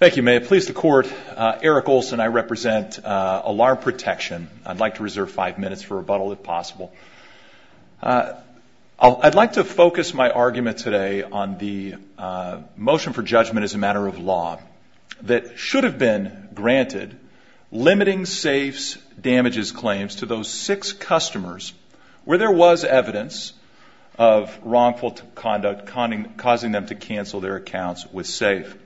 Thank you, Mayor. Please, the Court, Eric Olson, I represent Alarm Protection. I'd like to reserve five minutes for rebuttal, if possible. I'd like to focus my argument today on the motion for judgment as a matter of law that should have been granted limiting safes damages claims to those six customers where there was evidence of wrongful conduct causing them to cancel their accounts with SAFE.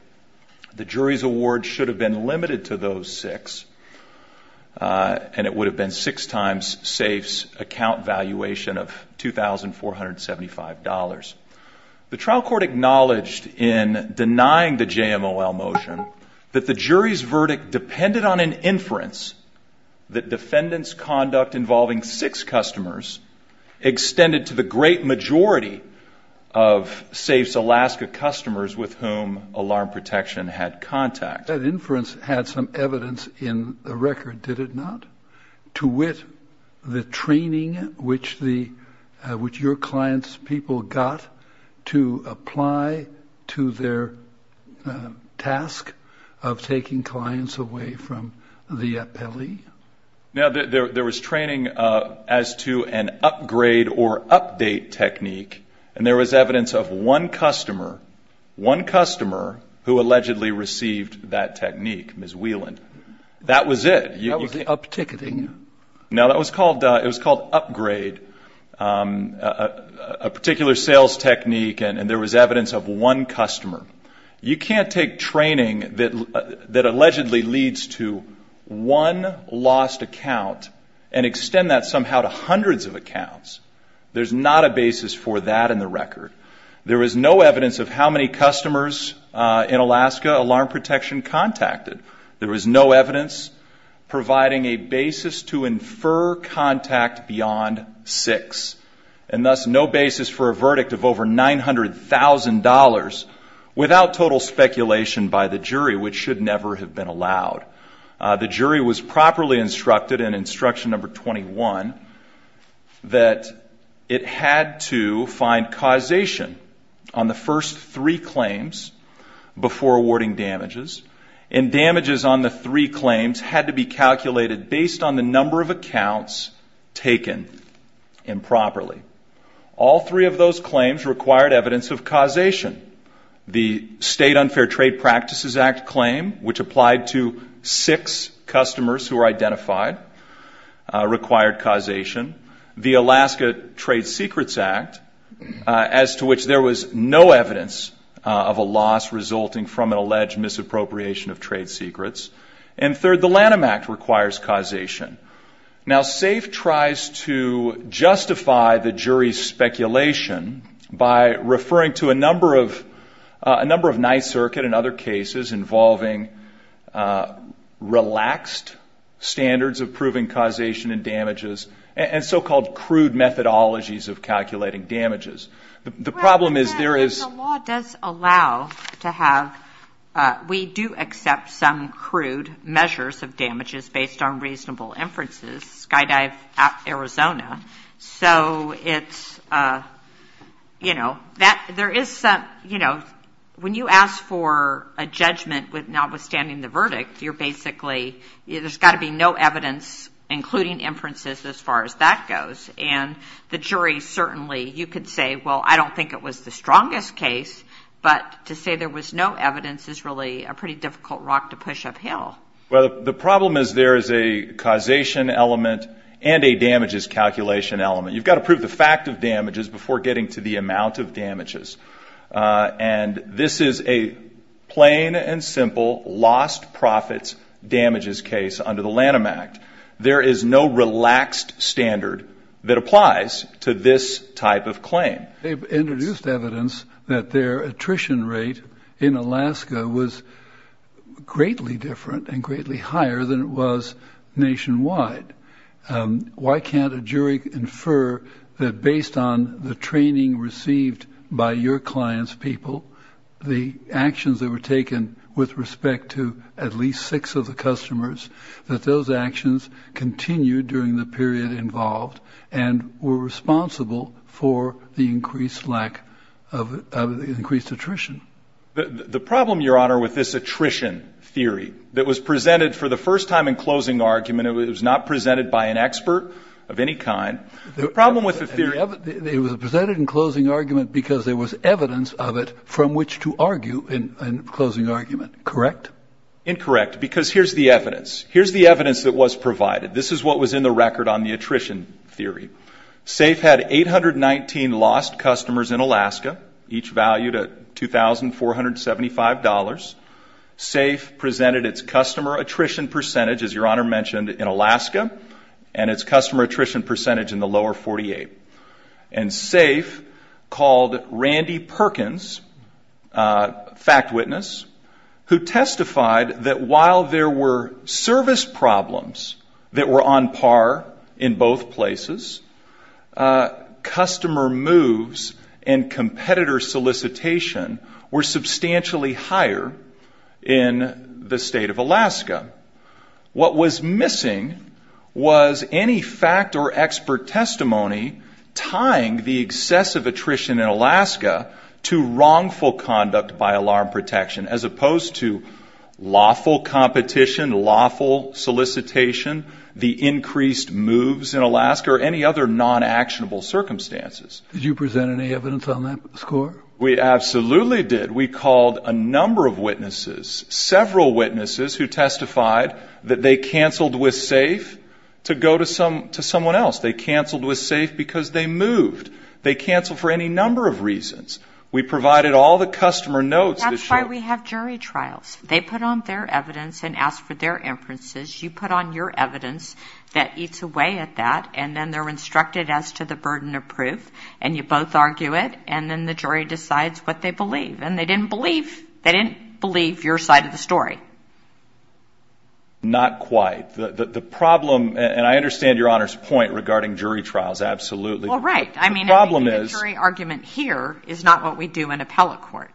The jury's award should have been limited to those six, and it would have been six times SAFE's account valuation of $2,475. The trial court acknowledged in denying the JMOL motion that the jury's verdict depended on an inference that defendants' conduct involving six customers extended to the great majority of SAFE's Alaska customers with whom Alarm Protection had contact. That inference had some evidence in the record, did it not? To wit, the training which your clients' people got to apply to their task of taking clients away from the appellee. Now, there was training as to an upgrade or update technique, and there was evidence of one customer, one customer, who allegedly received that technique, Ms. Whelan. That was it. That was the up-ticketing. Now, it was called upgrade, a particular sales technique, and there was evidence of one customer. You can't take training that allegedly leads to one lost account and extend that somehow to hundreds of accounts. There's not a basis for that in the record. There is no evidence of how many customers in Alaska Alarm Protection contacted. There was no evidence providing a basis to infer contact beyond six, and thus no basis for a verdict of over $900,000 without total speculation by the jury, which should never have been allowed. The jury was properly instructed in instruction number 21 that it had to find causation on the first three claims before awarding damages, and damages on the three claims had to be calculated based on the number of accounts taken improperly. All three of those claims required evidence of causation. The State Unfair Trade Practices Act claim, which applied to six customers who were identified, required causation. The Alaska Trade Secrets Act, as to which there was no evidence of a loss resulting from an alleged misappropriation of trade secrets. And third, the Lanham Act requires causation. Now, SAFE tries to justify the jury's speculation by referring to a number of nice circuit and other cases involving relaxed standards of proving causation and damages and so-called crude methodologies of calculating damages. The problem is there is — Well, the law does allow to have — we do accept some crude measures of damages based on reasonable inferences, Skydive, Arizona. So it's, you know, that — there is some — you know, when you ask for a judgment with notwithstanding the verdict, you're basically — there's got to be no evidence including inferences as far as that goes. And the jury certainly — you could say, well, I don't think it was the strongest case, but to say there was no evidence is really a pretty difficult rock to push uphill. Well, the problem is there is a causation element and a damages calculation element. You've got to prove the fact of damages before getting to the amount of damages. And this is a plain and simple lost profits damages case under the Lanham Act. There is no relaxed standard that applies to this type of claim. They've introduced evidence that their attrition rate in Alaska was greatly different and greatly higher than it was nationwide. Why can't a jury infer that based on the training received by your client's people, the actions that were taken with respect to at least six of the customers, that those actions continued during the period involved and were responsible for the increased lack of — increased attrition? The problem, Your Honor, with this attrition theory that was presented for the first time in closing argument, it was not presented by an expert of any kind. The problem with the theory — It was presented in closing argument because there was evidence of it from which to argue in closing argument, correct? Incorrect, because here's the evidence. Here's the evidence that was provided. This is what was in the record on the attrition theory. SAFE had 819 lost customers in Alaska, each valued at $2,475. SAFE presented its customer attrition percentage, as Your Honor mentioned, in Alaska and its customer attrition percentage in the lower 48. And SAFE called Randy Perkins, fact witness, who testified that while there were service problems that were on par in both places, customer moves and competitor solicitation were substantially higher in the state of Alaska. What was missing was any fact or expert testimony tying the excessive attrition in Alaska to wrongful conduct by alarm protection, as opposed to lawful competition, lawful solicitation, the increased moves in Alaska, or any other non-actionable circumstances. Did you present any evidence on that score? We absolutely did. We called a number of witnesses, several witnesses who testified that they canceled with SAFE to go to someone else. They canceled with SAFE because they moved. They canceled for any number of reasons. We provided all the customer notes. That's why we have jury trials. They put on their evidence and ask for their inferences. You put on your evidence that eats away at that, and then they're instructed as to the burden of proof, and you both argue it, and then the jury decides what they believe. And they didn't believe. They didn't believe your side of the story. Not quite. The problem, and I understand Your Honor's point regarding jury trials, absolutely. Well, right. I mean, the jury argument here is not what we do in appellate court.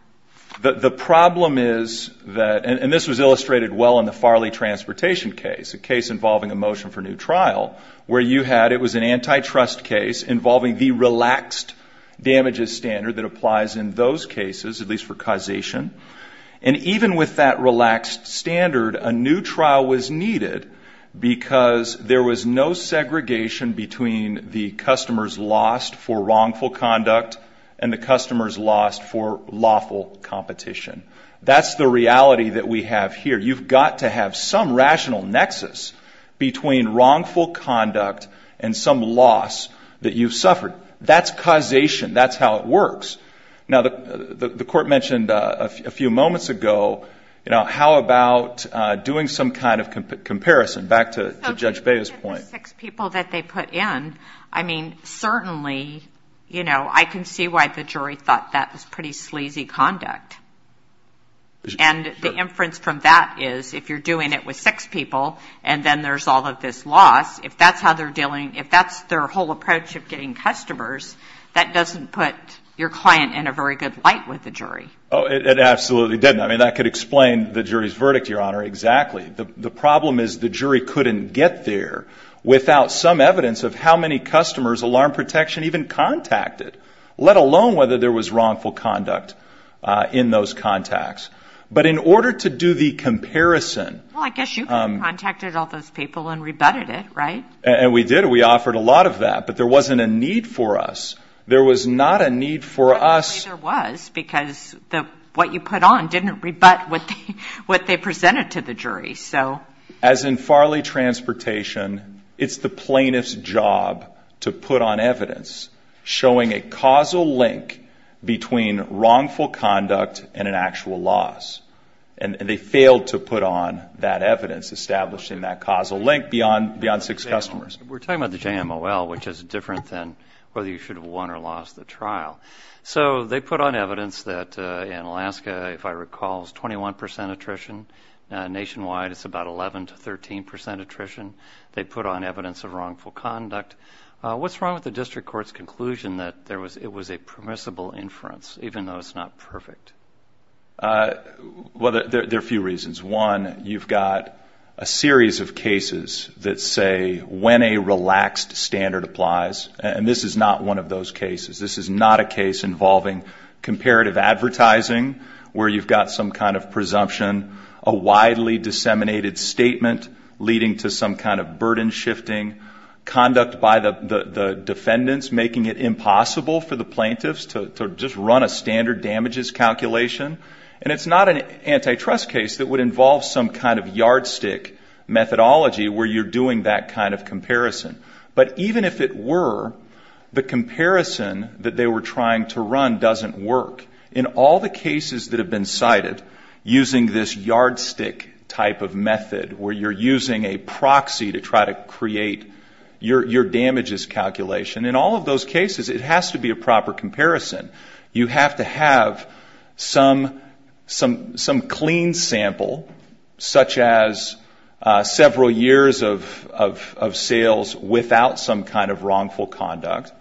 The problem is that, and this was illustrated well in the Farley transportation case, a case involving a motion for new trial, where you had, it was an antitrust case that applies in those cases, at least for causation. And even with that relaxed standard, a new trial was needed because there was no segregation between the customers lost for wrongful conduct and the customers lost for lawful competition. That's the reality that we have here. You've got to have some rational nexus between wrongful conduct and some loss that you've suffered. That's causation. That's how it works. Now, the court mentioned a few moments ago, you know, how about doing some kind of comparison, back to Judge Baez's point. So given the six people that they put in, I mean, certainly, you know, I can see why the jury thought that was pretty sleazy conduct. And the inference from that is if you're doing it with six people and then there's all of this loss, if that's how they're dealing, if that's their whole approach of getting customers, that doesn't put your client in a very good light with the jury. Oh, it absolutely didn't. I mean, that could explain the jury's verdict, Your Honor, exactly. The problem is the jury couldn't get there without some evidence of how many customers alarm protection even contacted, let alone whether there was wrongful conduct in those contacts. But in order to do the comparison. Well, I guess you contacted all those people and rebutted it, right? And we did. We offered a lot of that, but there wasn't a need for us. There was not a need for us. There was, because what you put on didn't rebut what they presented to the jury. As in Farley Transportation, it's the plaintiff's job to put on evidence showing a causal link between wrongful conduct and an actual loss. And they failed to put on that evidence, establishing that causal link beyond six customers. We're talking about the JMOL, which is different than whether you should have won or lost the trial. So they put on evidence that in Alaska, if I recall, is 21 percent attrition. Nationwide, it's about 11 to 13 percent attrition. They put on evidence of wrongful conduct. What's wrong with the district court's conclusion that it was a permissible inference, even though it's not perfect? Well, there are a few reasons. One, you've got a series of cases that say when a relaxed standard applies. And this is not one of those cases. This is not a case involving comparative advertising where you've got some kind of presumption, a widely disseminated statement leading to some kind of burden shifting, conduct by the defendants making it impossible for the plaintiffs to just run a standard damages calculation. And it's not an antitrust case that would involve some kind of yardstick methodology where you're doing that kind of comparison. But even if it were, the comparison that they were trying to run doesn't work. In all the cases that have been cited using this yardstick type of method where you're using a proxy to try to create your damages calculation, in all of those cases it has to be a proper comparison. You have to have some clean sample, such as several years of sales without some kind of wrongful conduct,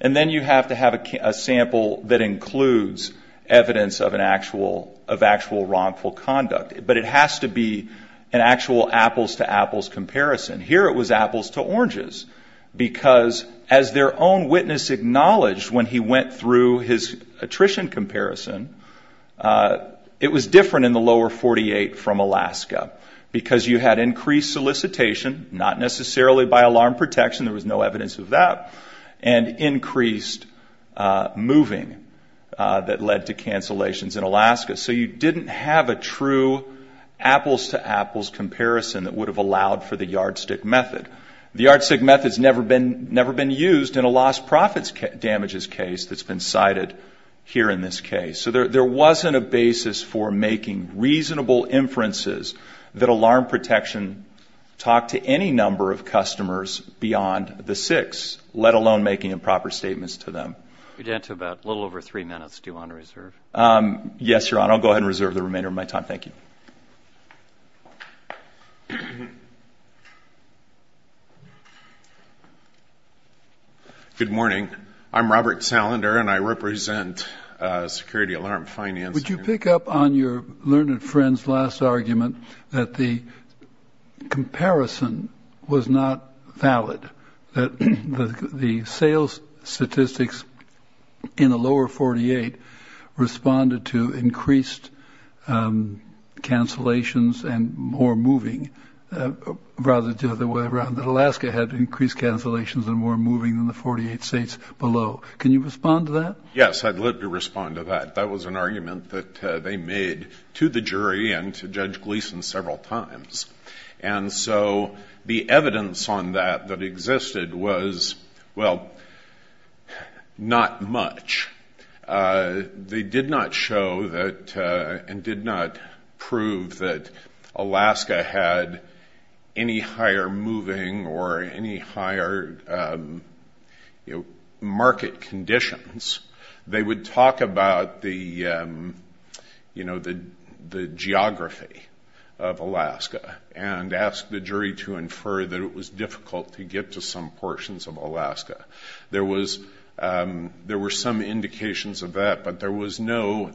and then you have to have a sample that includes evidence of actual wrongful conduct. But it has to be an actual apples-to-apples comparison. Here it was apples-to-oranges because, as their own witness acknowledged when he went through his attrition comparison, it was different in the lower 48 from Alaska because you had increased solicitation, not necessarily by alarm protection, there was no evidence of that, and increased moving that led to cancellations in Alaska. So you didn't have a true apples-to-apples comparison that would have allowed for the yardstick method. The yardstick method has never been used in a lost profits damages case that's been cited here in this case. So there wasn't a basis for making reasonable inferences that alarm protection talked to any number of customers beyond the six, let alone making improper statements to them. We're down to about a little over three minutes. Do you want to reserve? Yes, Your Honor. I'll go ahead and reserve the remainder of my time. Thank you. Good morning. I'm Robert Salander, and I represent Security Alarm Finance. Would you pick up on your learned friend's last argument that the comparison was not valid, that the sales statistics in the lower 48 responded to increased cancellations and more moving, rather the other way around, that Alaska had increased cancellations and more moving than the 48 states below. Can you respond to that? Yes, I'd love to respond to that. That was an argument that they made to the jury and to Judge Gleeson several times. And so the evidence on that that existed was, well, not much. They did not show that and did not prove that Alaska had any higher moving or any higher market conditions. They would talk about the geography of Alaska and ask the jury to infer that it was difficult to get to some portions of Alaska. There were some indications of that, but there was no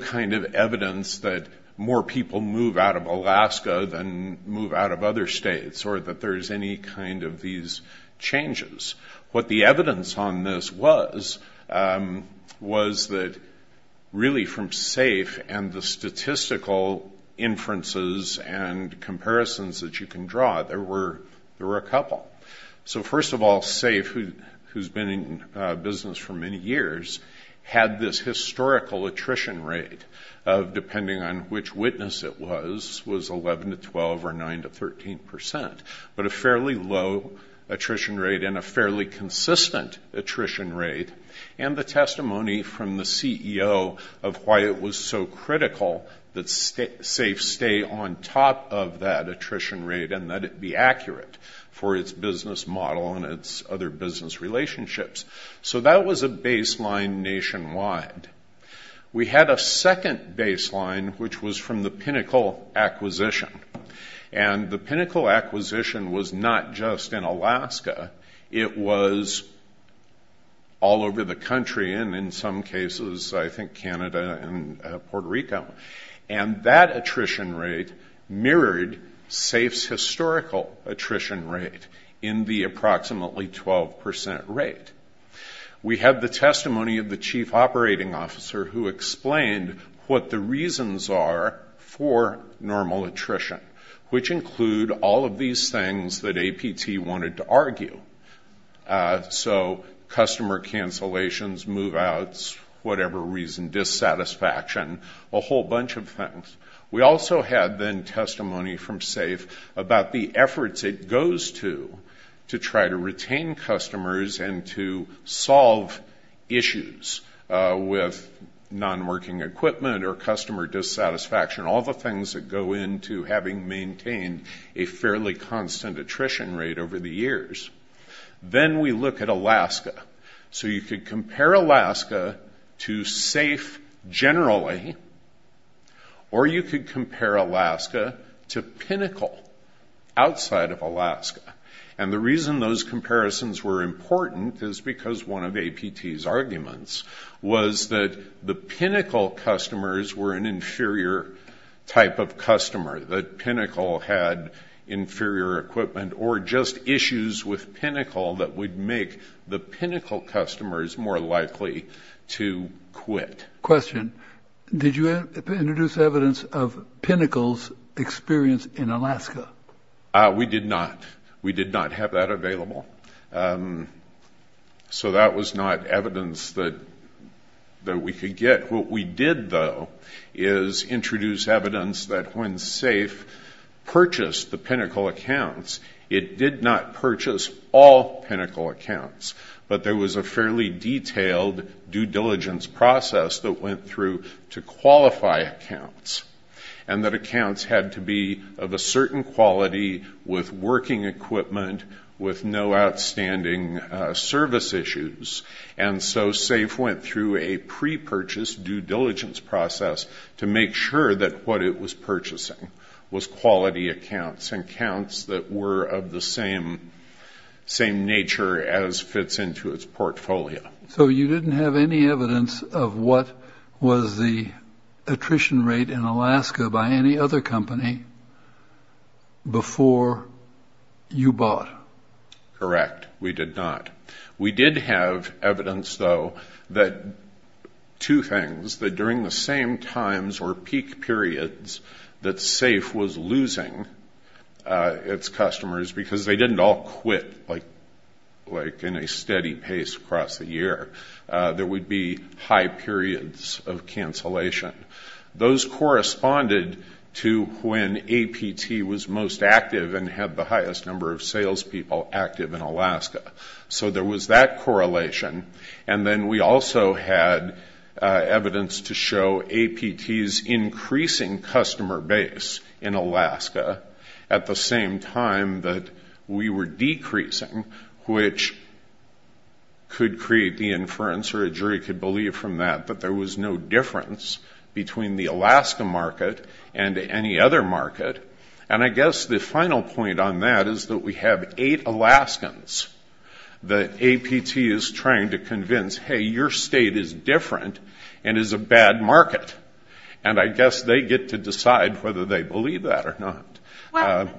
kind of evidence that more people move out of Alaska than move out of other states or that there's any kind of these changes. What the evidence on this was, was that really from SAFE and the statistical inferences and comparisons that you can draw, there were a couple. So first of all, SAFE, who's been in business for many years, had this historical attrition rate of, depending on which witness it was, was 11 to 12 or 9 to 13 percent, but a fairly low attrition rate and a fairly consistent attrition rate, and the testimony from the CEO of why it was so critical that SAFE stay on top of that attrition rate and that it be accurate for its business model and its other business relationships. So that was a baseline nationwide. We had a second baseline, which was from the Pinnacle Acquisition. And the Pinnacle Acquisition was not just in Alaska. It was all over the country and, in some cases, I think Canada and Puerto Rico. And that attrition rate mirrored SAFE's historical attrition rate in the approximately 12 percent rate. We have the testimony of the chief operating officer who explained what the reasons are for normal attrition, which include all of these things that APT wanted to argue. So customer cancellations, move-outs, whatever reason, dissatisfaction, a whole bunch of things. We also had, then, testimony from SAFE about the efforts it goes to to try to retain customers and to solve issues with non-working equipment or customer dissatisfaction, all the things that go into having maintained a fairly constant attrition rate over the years. Then we look at Alaska. So you could compare Alaska to SAFE generally, or you could compare Alaska to Pinnacle outside of Alaska. And the reason those comparisons were important is because one of APT's arguments was that the Pinnacle customers were an inferior type of customer, that Pinnacle had inferior equipment, or just issues with Pinnacle that would make the Pinnacle customers more likely to quit. Question. Did you introduce evidence of Pinnacle's experience in Alaska? We did not. We did not have that available. So that was not evidence that we could get. What we did, though, is introduce evidence that when SAFE purchased the Pinnacle accounts, it did not purchase all Pinnacle accounts, but there was a fairly detailed due diligence process that went through to qualify accounts, and that accounts had to be of a certain quality with working equipment with no outstanding service issues. And so SAFE went through a pre-purchase due diligence process to make sure that what it was purchasing was quality accounts and accounts that were of the same nature as fits into its portfolio. So you didn't have any evidence of what was the attrition rate in Alaska by any other company before you bought? Correct. We did not. We did have evidence, though, that two things, that during the same times or peak periods that SAFE was losing its customers, because they didn't all quit like in a steady pace across the year, there would be high periods of cancellation. Those corresponded to when APT was most active and had the highest number of salespeople active in Alaska. So there was that correlation. And then we also had evidence to show APT's increasing customer base in Alaska at the same time that we were decreasing, which could create the inference, or a jury could believe from that, that there was no difference between the Alaska market and any other market. And I guess the final point on that is that we have eight Alaskans that APT is trying to convince, hey, your state is different and is a bad market. And I guess they get to decide whether they believe that or not. Well,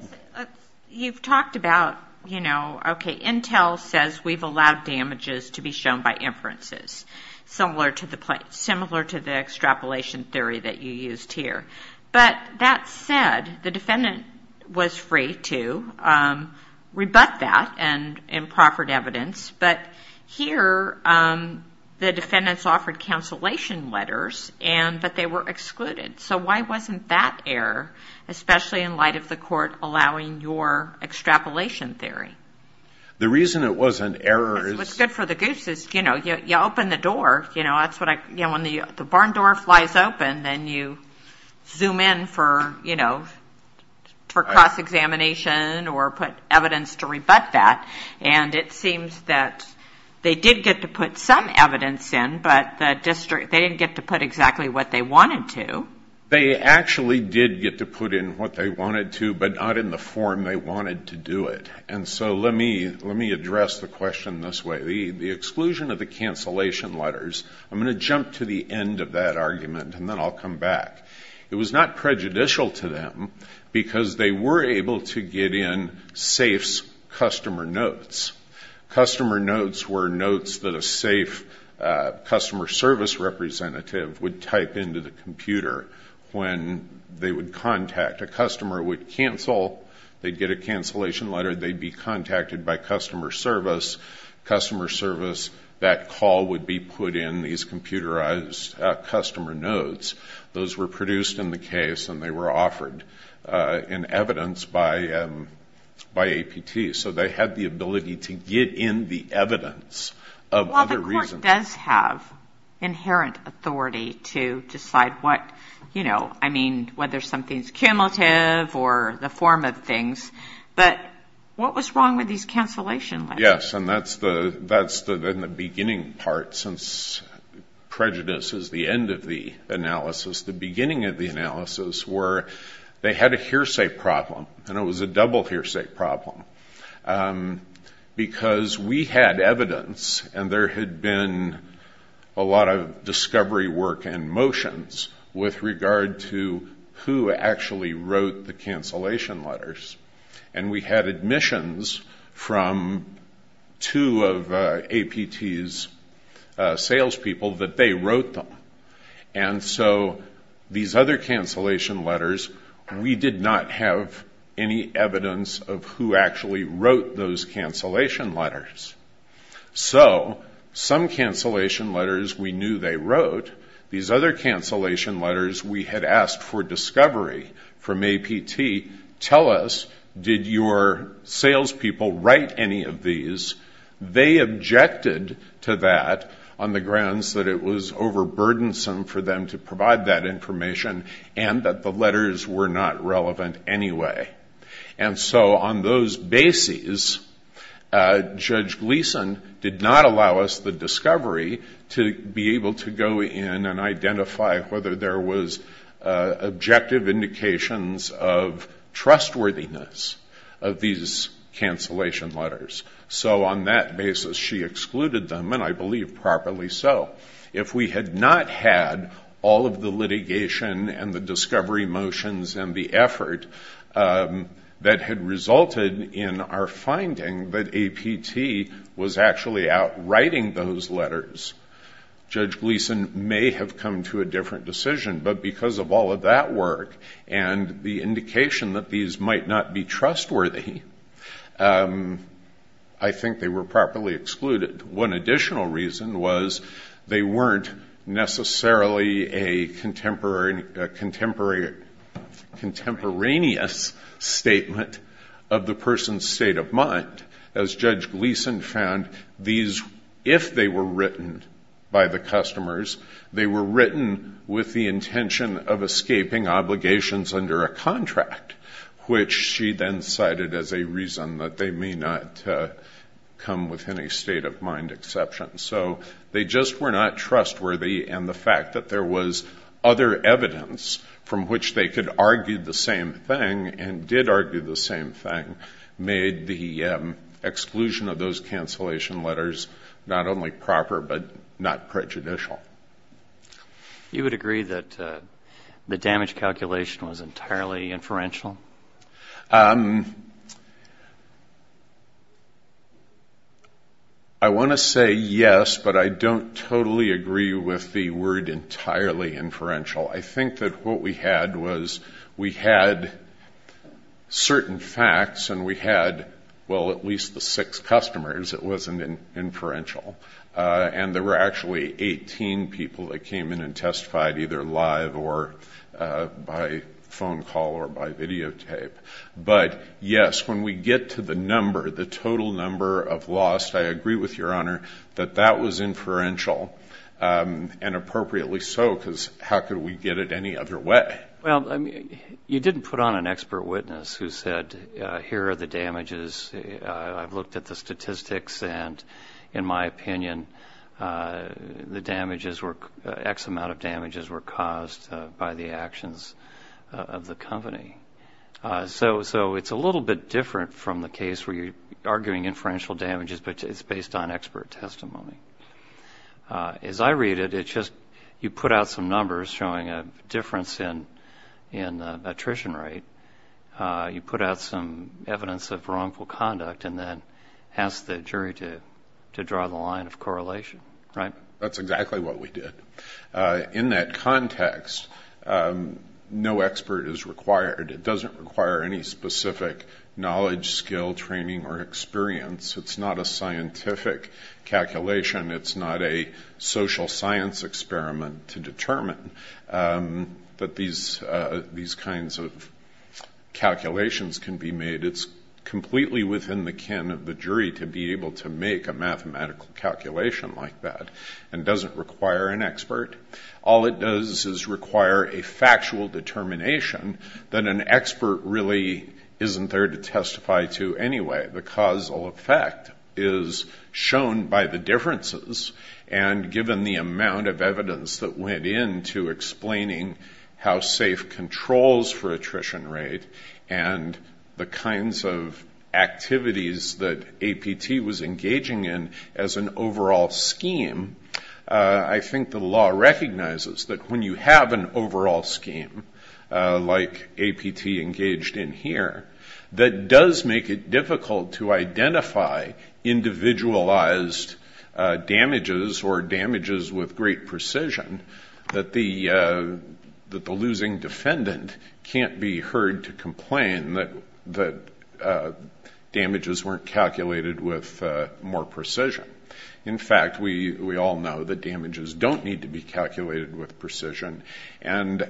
you've talked about, you know, okay, Intel says we've allowed damages to be shown by inferences, similar to the extrapolation theory that you used here. But that said, the defendant was free to rebut that in proffered evidence. But here the defendants offered cancellation letters, but they were excluded. So why wasn't that error, especially in light of the court allowing your extrapolation theory? The reason it was an error is... What's good for the goose is, you know, you open the door. When the barn door flies open, then you zoom in for cross-examination or put evidence to rebut that. And it seems that they did get to put some evidence in, but they didn't get to put exactly what they wanted to. They actually did get to put in what they wanted to, but not in the form they wanted to do it. And so let me address the question this way. The exclusion of the cancellation letters, I'm going to jump to the end of that argument, and then I'll come back. It was not prejudicial to them because they were able to get in SAFE's customer notes. Customer notes were notes that a SAFE customer service representative would type into the computer when they would contact. A customer would cancel, they'd get a cancellation letter, they'd be contacted by customer service. Customer service, that call would be put in these computerized customer notes. Those were produced in the case and they were offered in evidence by APT. So they had the ability to get in the evidence of other reasons. Well, the court does have inherent authority to decide what, you know, I mean, whether something's cumulative or the form of things. But what was wrong with these cancellation letters? Yes, and that's the beginning part since prejudice is the end of the analysis. The beginning of the analysis were they had a hearsay problem, and it was a double hearsay problem because we had evidence and there had been a lot of discovery work and motions with regard to who actually wrote the cancellation letters. And we had admissions from two of APT's salespeople that they wrote them. And so these other cancellation letters, we did not have any evidence of who actually wrote those cancellation letters. So some cancellation letters we knew they wrote. These other cancellation letters we had asked for discovery from APT, tell us did your salespeople write any of these. They objected to that on the grounds that it was overburdensome for them to provide that information and that the letters were not relevant anyway. And so on those bases, Judge Gleeson did not allow us the discovery to be able to go in and identify whether there was objective indications of trustworthiness of these cancellation letters. So on that basis, she excluded them, and I believe properly so. If we had not had all of the litigation and the discovery motions and the effort that had resulted in our finding that APT was actually out writing those letters, Judge Gleeson may have come to a different decision. But because of all of that work and the indication that these might not be trustworthy, I think they were properly excluded. One additional reason was they weren't necessarily a contemporaneous statement of the person's state of mind. As Judge Gleeson found, if they were written by the customers, they were written with the intention of escaping obligations under a contract, which she then cited as a reason that they may not come within a state of mind exception. So they just were not trustworthy, and the fact that there was other evidence from which they could argue the same thing and did argue the same thing made the exclusion of those cancellation letters not only proper but not prejudicial. You would agree that the damage calculation was entirely inferential? I want to say yes, but I don't totally agree with the word entirely inferential. I think that what we had was we had certain facts and we had, well, at least the six customers. It wasn't inferential. And there were actually 18 people that came in and testified either live or by phone call or by videotape. But, yes, when we get to the number, the total number of lost, I agree with Your Honor that that was inferential, and appropriately so because how could we get it any other way? Well, you didn't put on an expert witness who said, here are the damages. I've looked at the statistics and, in my opinion, the damages were, X amount of damages were caused by the actions of the company. So it's a little bit different from the case where you're arguing inferential damages, but it's based on expert testimony. As I read it, it's just you put out some numbers showing a difference in attrition rate. You put out some evidence of wrongful conduct and then ask the jury to draw the line of correlation, right? That's exactly what we did. In that context, no expert is required. It doesn't require any specific knowledge, skill, training, or experience. It's not a scientific calculation. It's not a social science experiment to determine that these kinds of calculations can be made. It's completely within the kin of the jury to be able to make a mathematical calculation like that and doesn't require an expert. All it does is require a factual determination that an expert really isn't there to testify to anyway. The causal effect is shown by the differences, and given the amount of evidence that went into explaining how safe controls for attrition rate and the kinds of activities that APT was engaging in as an overall scheme, I think the law recognizes that when you have an overall scheme like APT engaged in here, that does make it difficult to identify individualized damages or damages with great precision, that the losing defendant can't be heard to complain that damages weren't calculated with more precision. In fact, we all know that damages don't need to be calculated with precision, and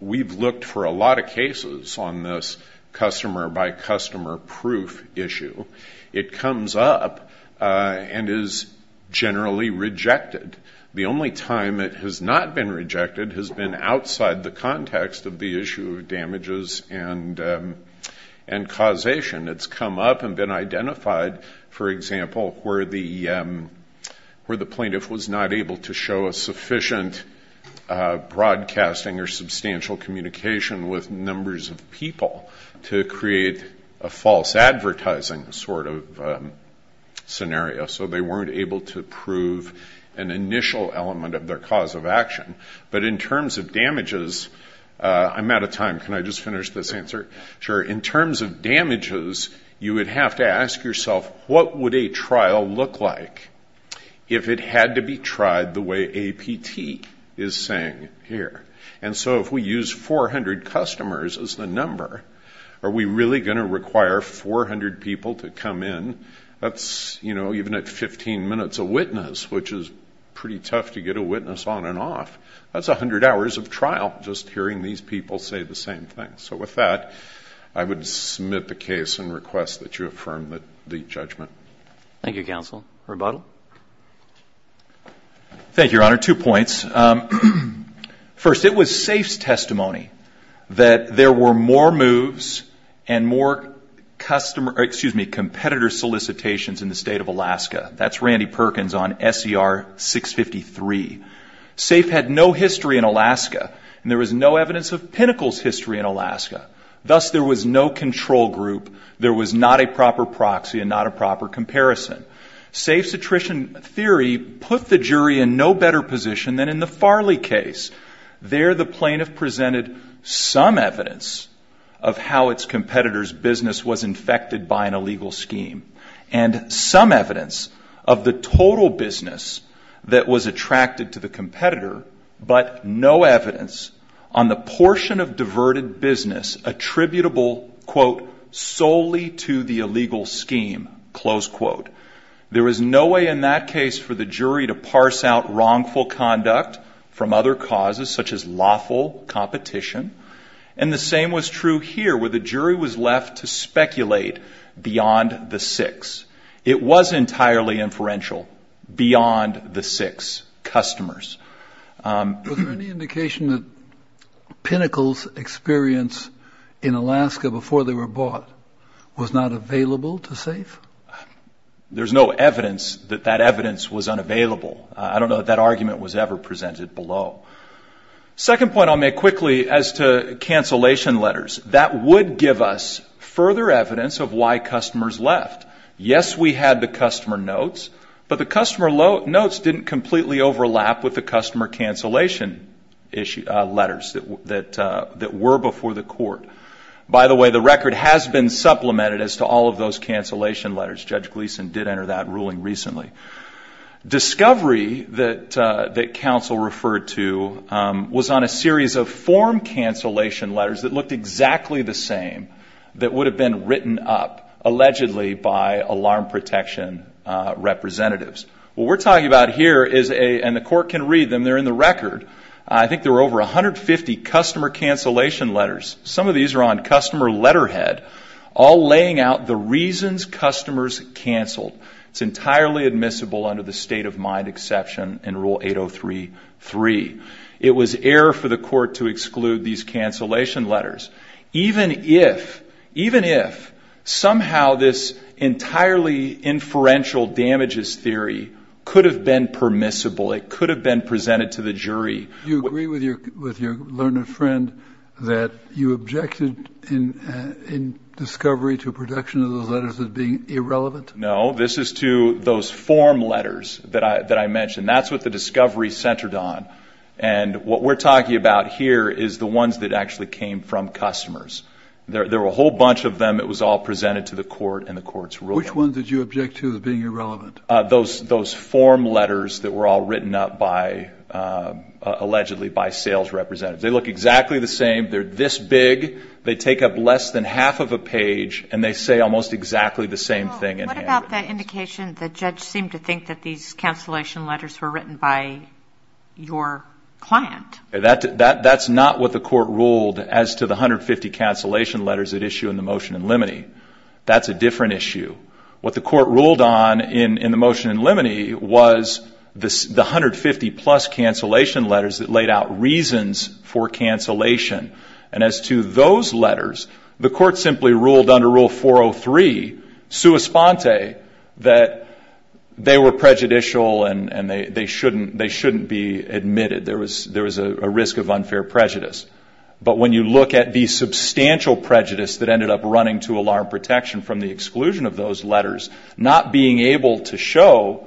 we've looked for a lot of cases on this customer-by-customer proof issue. It comes up and is generally rejected. The only time it has not been rejected has been outside the context of the issue of damages and causation. It's come up and been identified, for example, where the plaintiff was not able to show a sufficient broadcasting or substantial communication with numbers of people to create a false advertising sort of scenario, so they weren't able to prove an initial element of their cause of action. But in terms of damages, I'm out of time. Can I just finish this answer? Sure. In terms of damages, you would have to ask yourself, what would a trial look like if it had to be tried the way APT is saying here? And so if we use 400 customers as the number, are we really going to require 400 people to come in? That's, you know, even at 15 minutes a witness, which is pretty tough to get a witness on and off. That's 100 hours of trial just hearing these people say the same thing. So with that, I would submit the case and request that you affirm the judgment. Thank you, Counsel. Rebuttal? Thank you, Your Honor. Two points. First, it was SAFE's testimony that there were more moves and more competitor solicitations in the State of Alaska. That's Randy Perkins on SCR 653. SAFE had no history in Alaska, and there was no evidence of Pinnacle's history in Alaska. Thus, there was no control group. There was not a proper proxy and not a proper comparison. SAFE's attrition theory put the jury in no better position than in the Farley case. There, the plaintiff presented some evidence of how its competitor's business was infected by an illegal scheme and some evidence of the total business that was attracted to the competitor, but no evidence on the portion of diverted business attributable, quote, solely to the illegal scheme, close quote. There was no way in that case for the jury to parse out wrongful conduct from other causes, such as lawful competition. And the same was true here, where the jury was left to speculate beyond the six. It was entirely inferential beyond the six customers. Was there any indication that Pinnacle's experience in Alaska before they were bought was not available to SAFE? There's no evidence that that evidence was unavailable. I don't know that that argument was ever presented below. Second point I'll make quickly as to cancellation letters. That would give us further evidence of why customers left. Yes, we had the customer notes, but the customer notes didn't completely overlap with the customer cancellation letters that were before the court. By the way, the record has been supplemented as to all of those cancellation letters. Judge Gleeson did enter that ruling recently. Discovery that counsel referred to was on a series of form cancellation letters that looked exactly the same that would have been written up, allegedly by alarm protection representatives. What we're talking about here is a, and the court can read them, they're in the record, I think there were over 150 customer cancellation letters. Some of these are on customer letterhead, all laying out the reasons customers canceled. It's entirely admissible under the state of mind exception in Rule 803.3. It was error for the court to exclude these cancellation letters. Even if, even if, somehow this entirely inferential damages theory could have been permissible, it could have been presented to the jury. Do you agree with your learned friend that you objected in Discovery to a production of those letters as being irrelevant? No, this is to those form letters that I mentioned. That's what the Discovery centered on. And what we're talking about here is the ones that actually came from customers. There were a whole bunch of them. It was all presented to the court, and the court's ruling. Which ones did you object to as being irrelevant? Those form letters that were all written up by, allegedly by sales representatives. They look exactly the same. They're this big. They take up less than half of a page, and they say almost exactly the same thing. What about the indication the judge seemed to think that these cancellation letters were written by your client? That's not what the court ruled as to the 150 cancellation letters at issue in the motion in limine. That's a different issue. What the court ruled on in the motion in limine was the 150 plus cancellation letters that laid out reasons for cancellation. And as to those letters, the court simply ruled under Rule 403, sua sponte, that they were prejudicial and they shouldn't be admitted. There was a risk of unfair prejudice. But when you look at the substantial prejudice that ended up running to alarm protection from the exclusion of those letters, not being able to show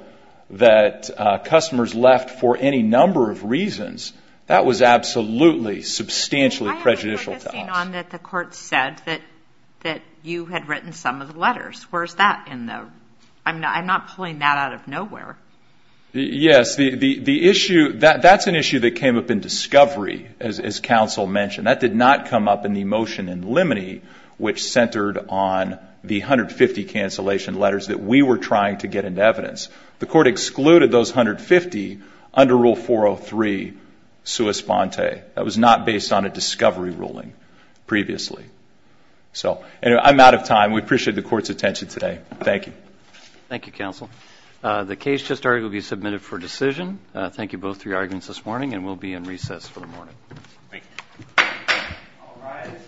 that customers left for any number of reasons, that was absolutely substantially prejudicial to us. I have a forecasting on that the court said that you had written some of the letters. Where's that in the ‑‑ I'm not pulling that out of nowhere. Yes, the issue ‑‑ that's an issue that came up in discovery, as counsel mentioned. That did not come up in the motion in limine, which centered on the 150 cancellation letters that we were trying to get into evidence. The court excluded those 150 under Rule 403, sua sponte. That was not based on a discovery ruling previously. So, anyway, I'm out of time. We appreciate the court's attention today. Thank you. Thank you, counsel. The case just argued will be submitted for decision. Thank you both for your arguments this morning, and we'll be in recess for the morning. Thank you.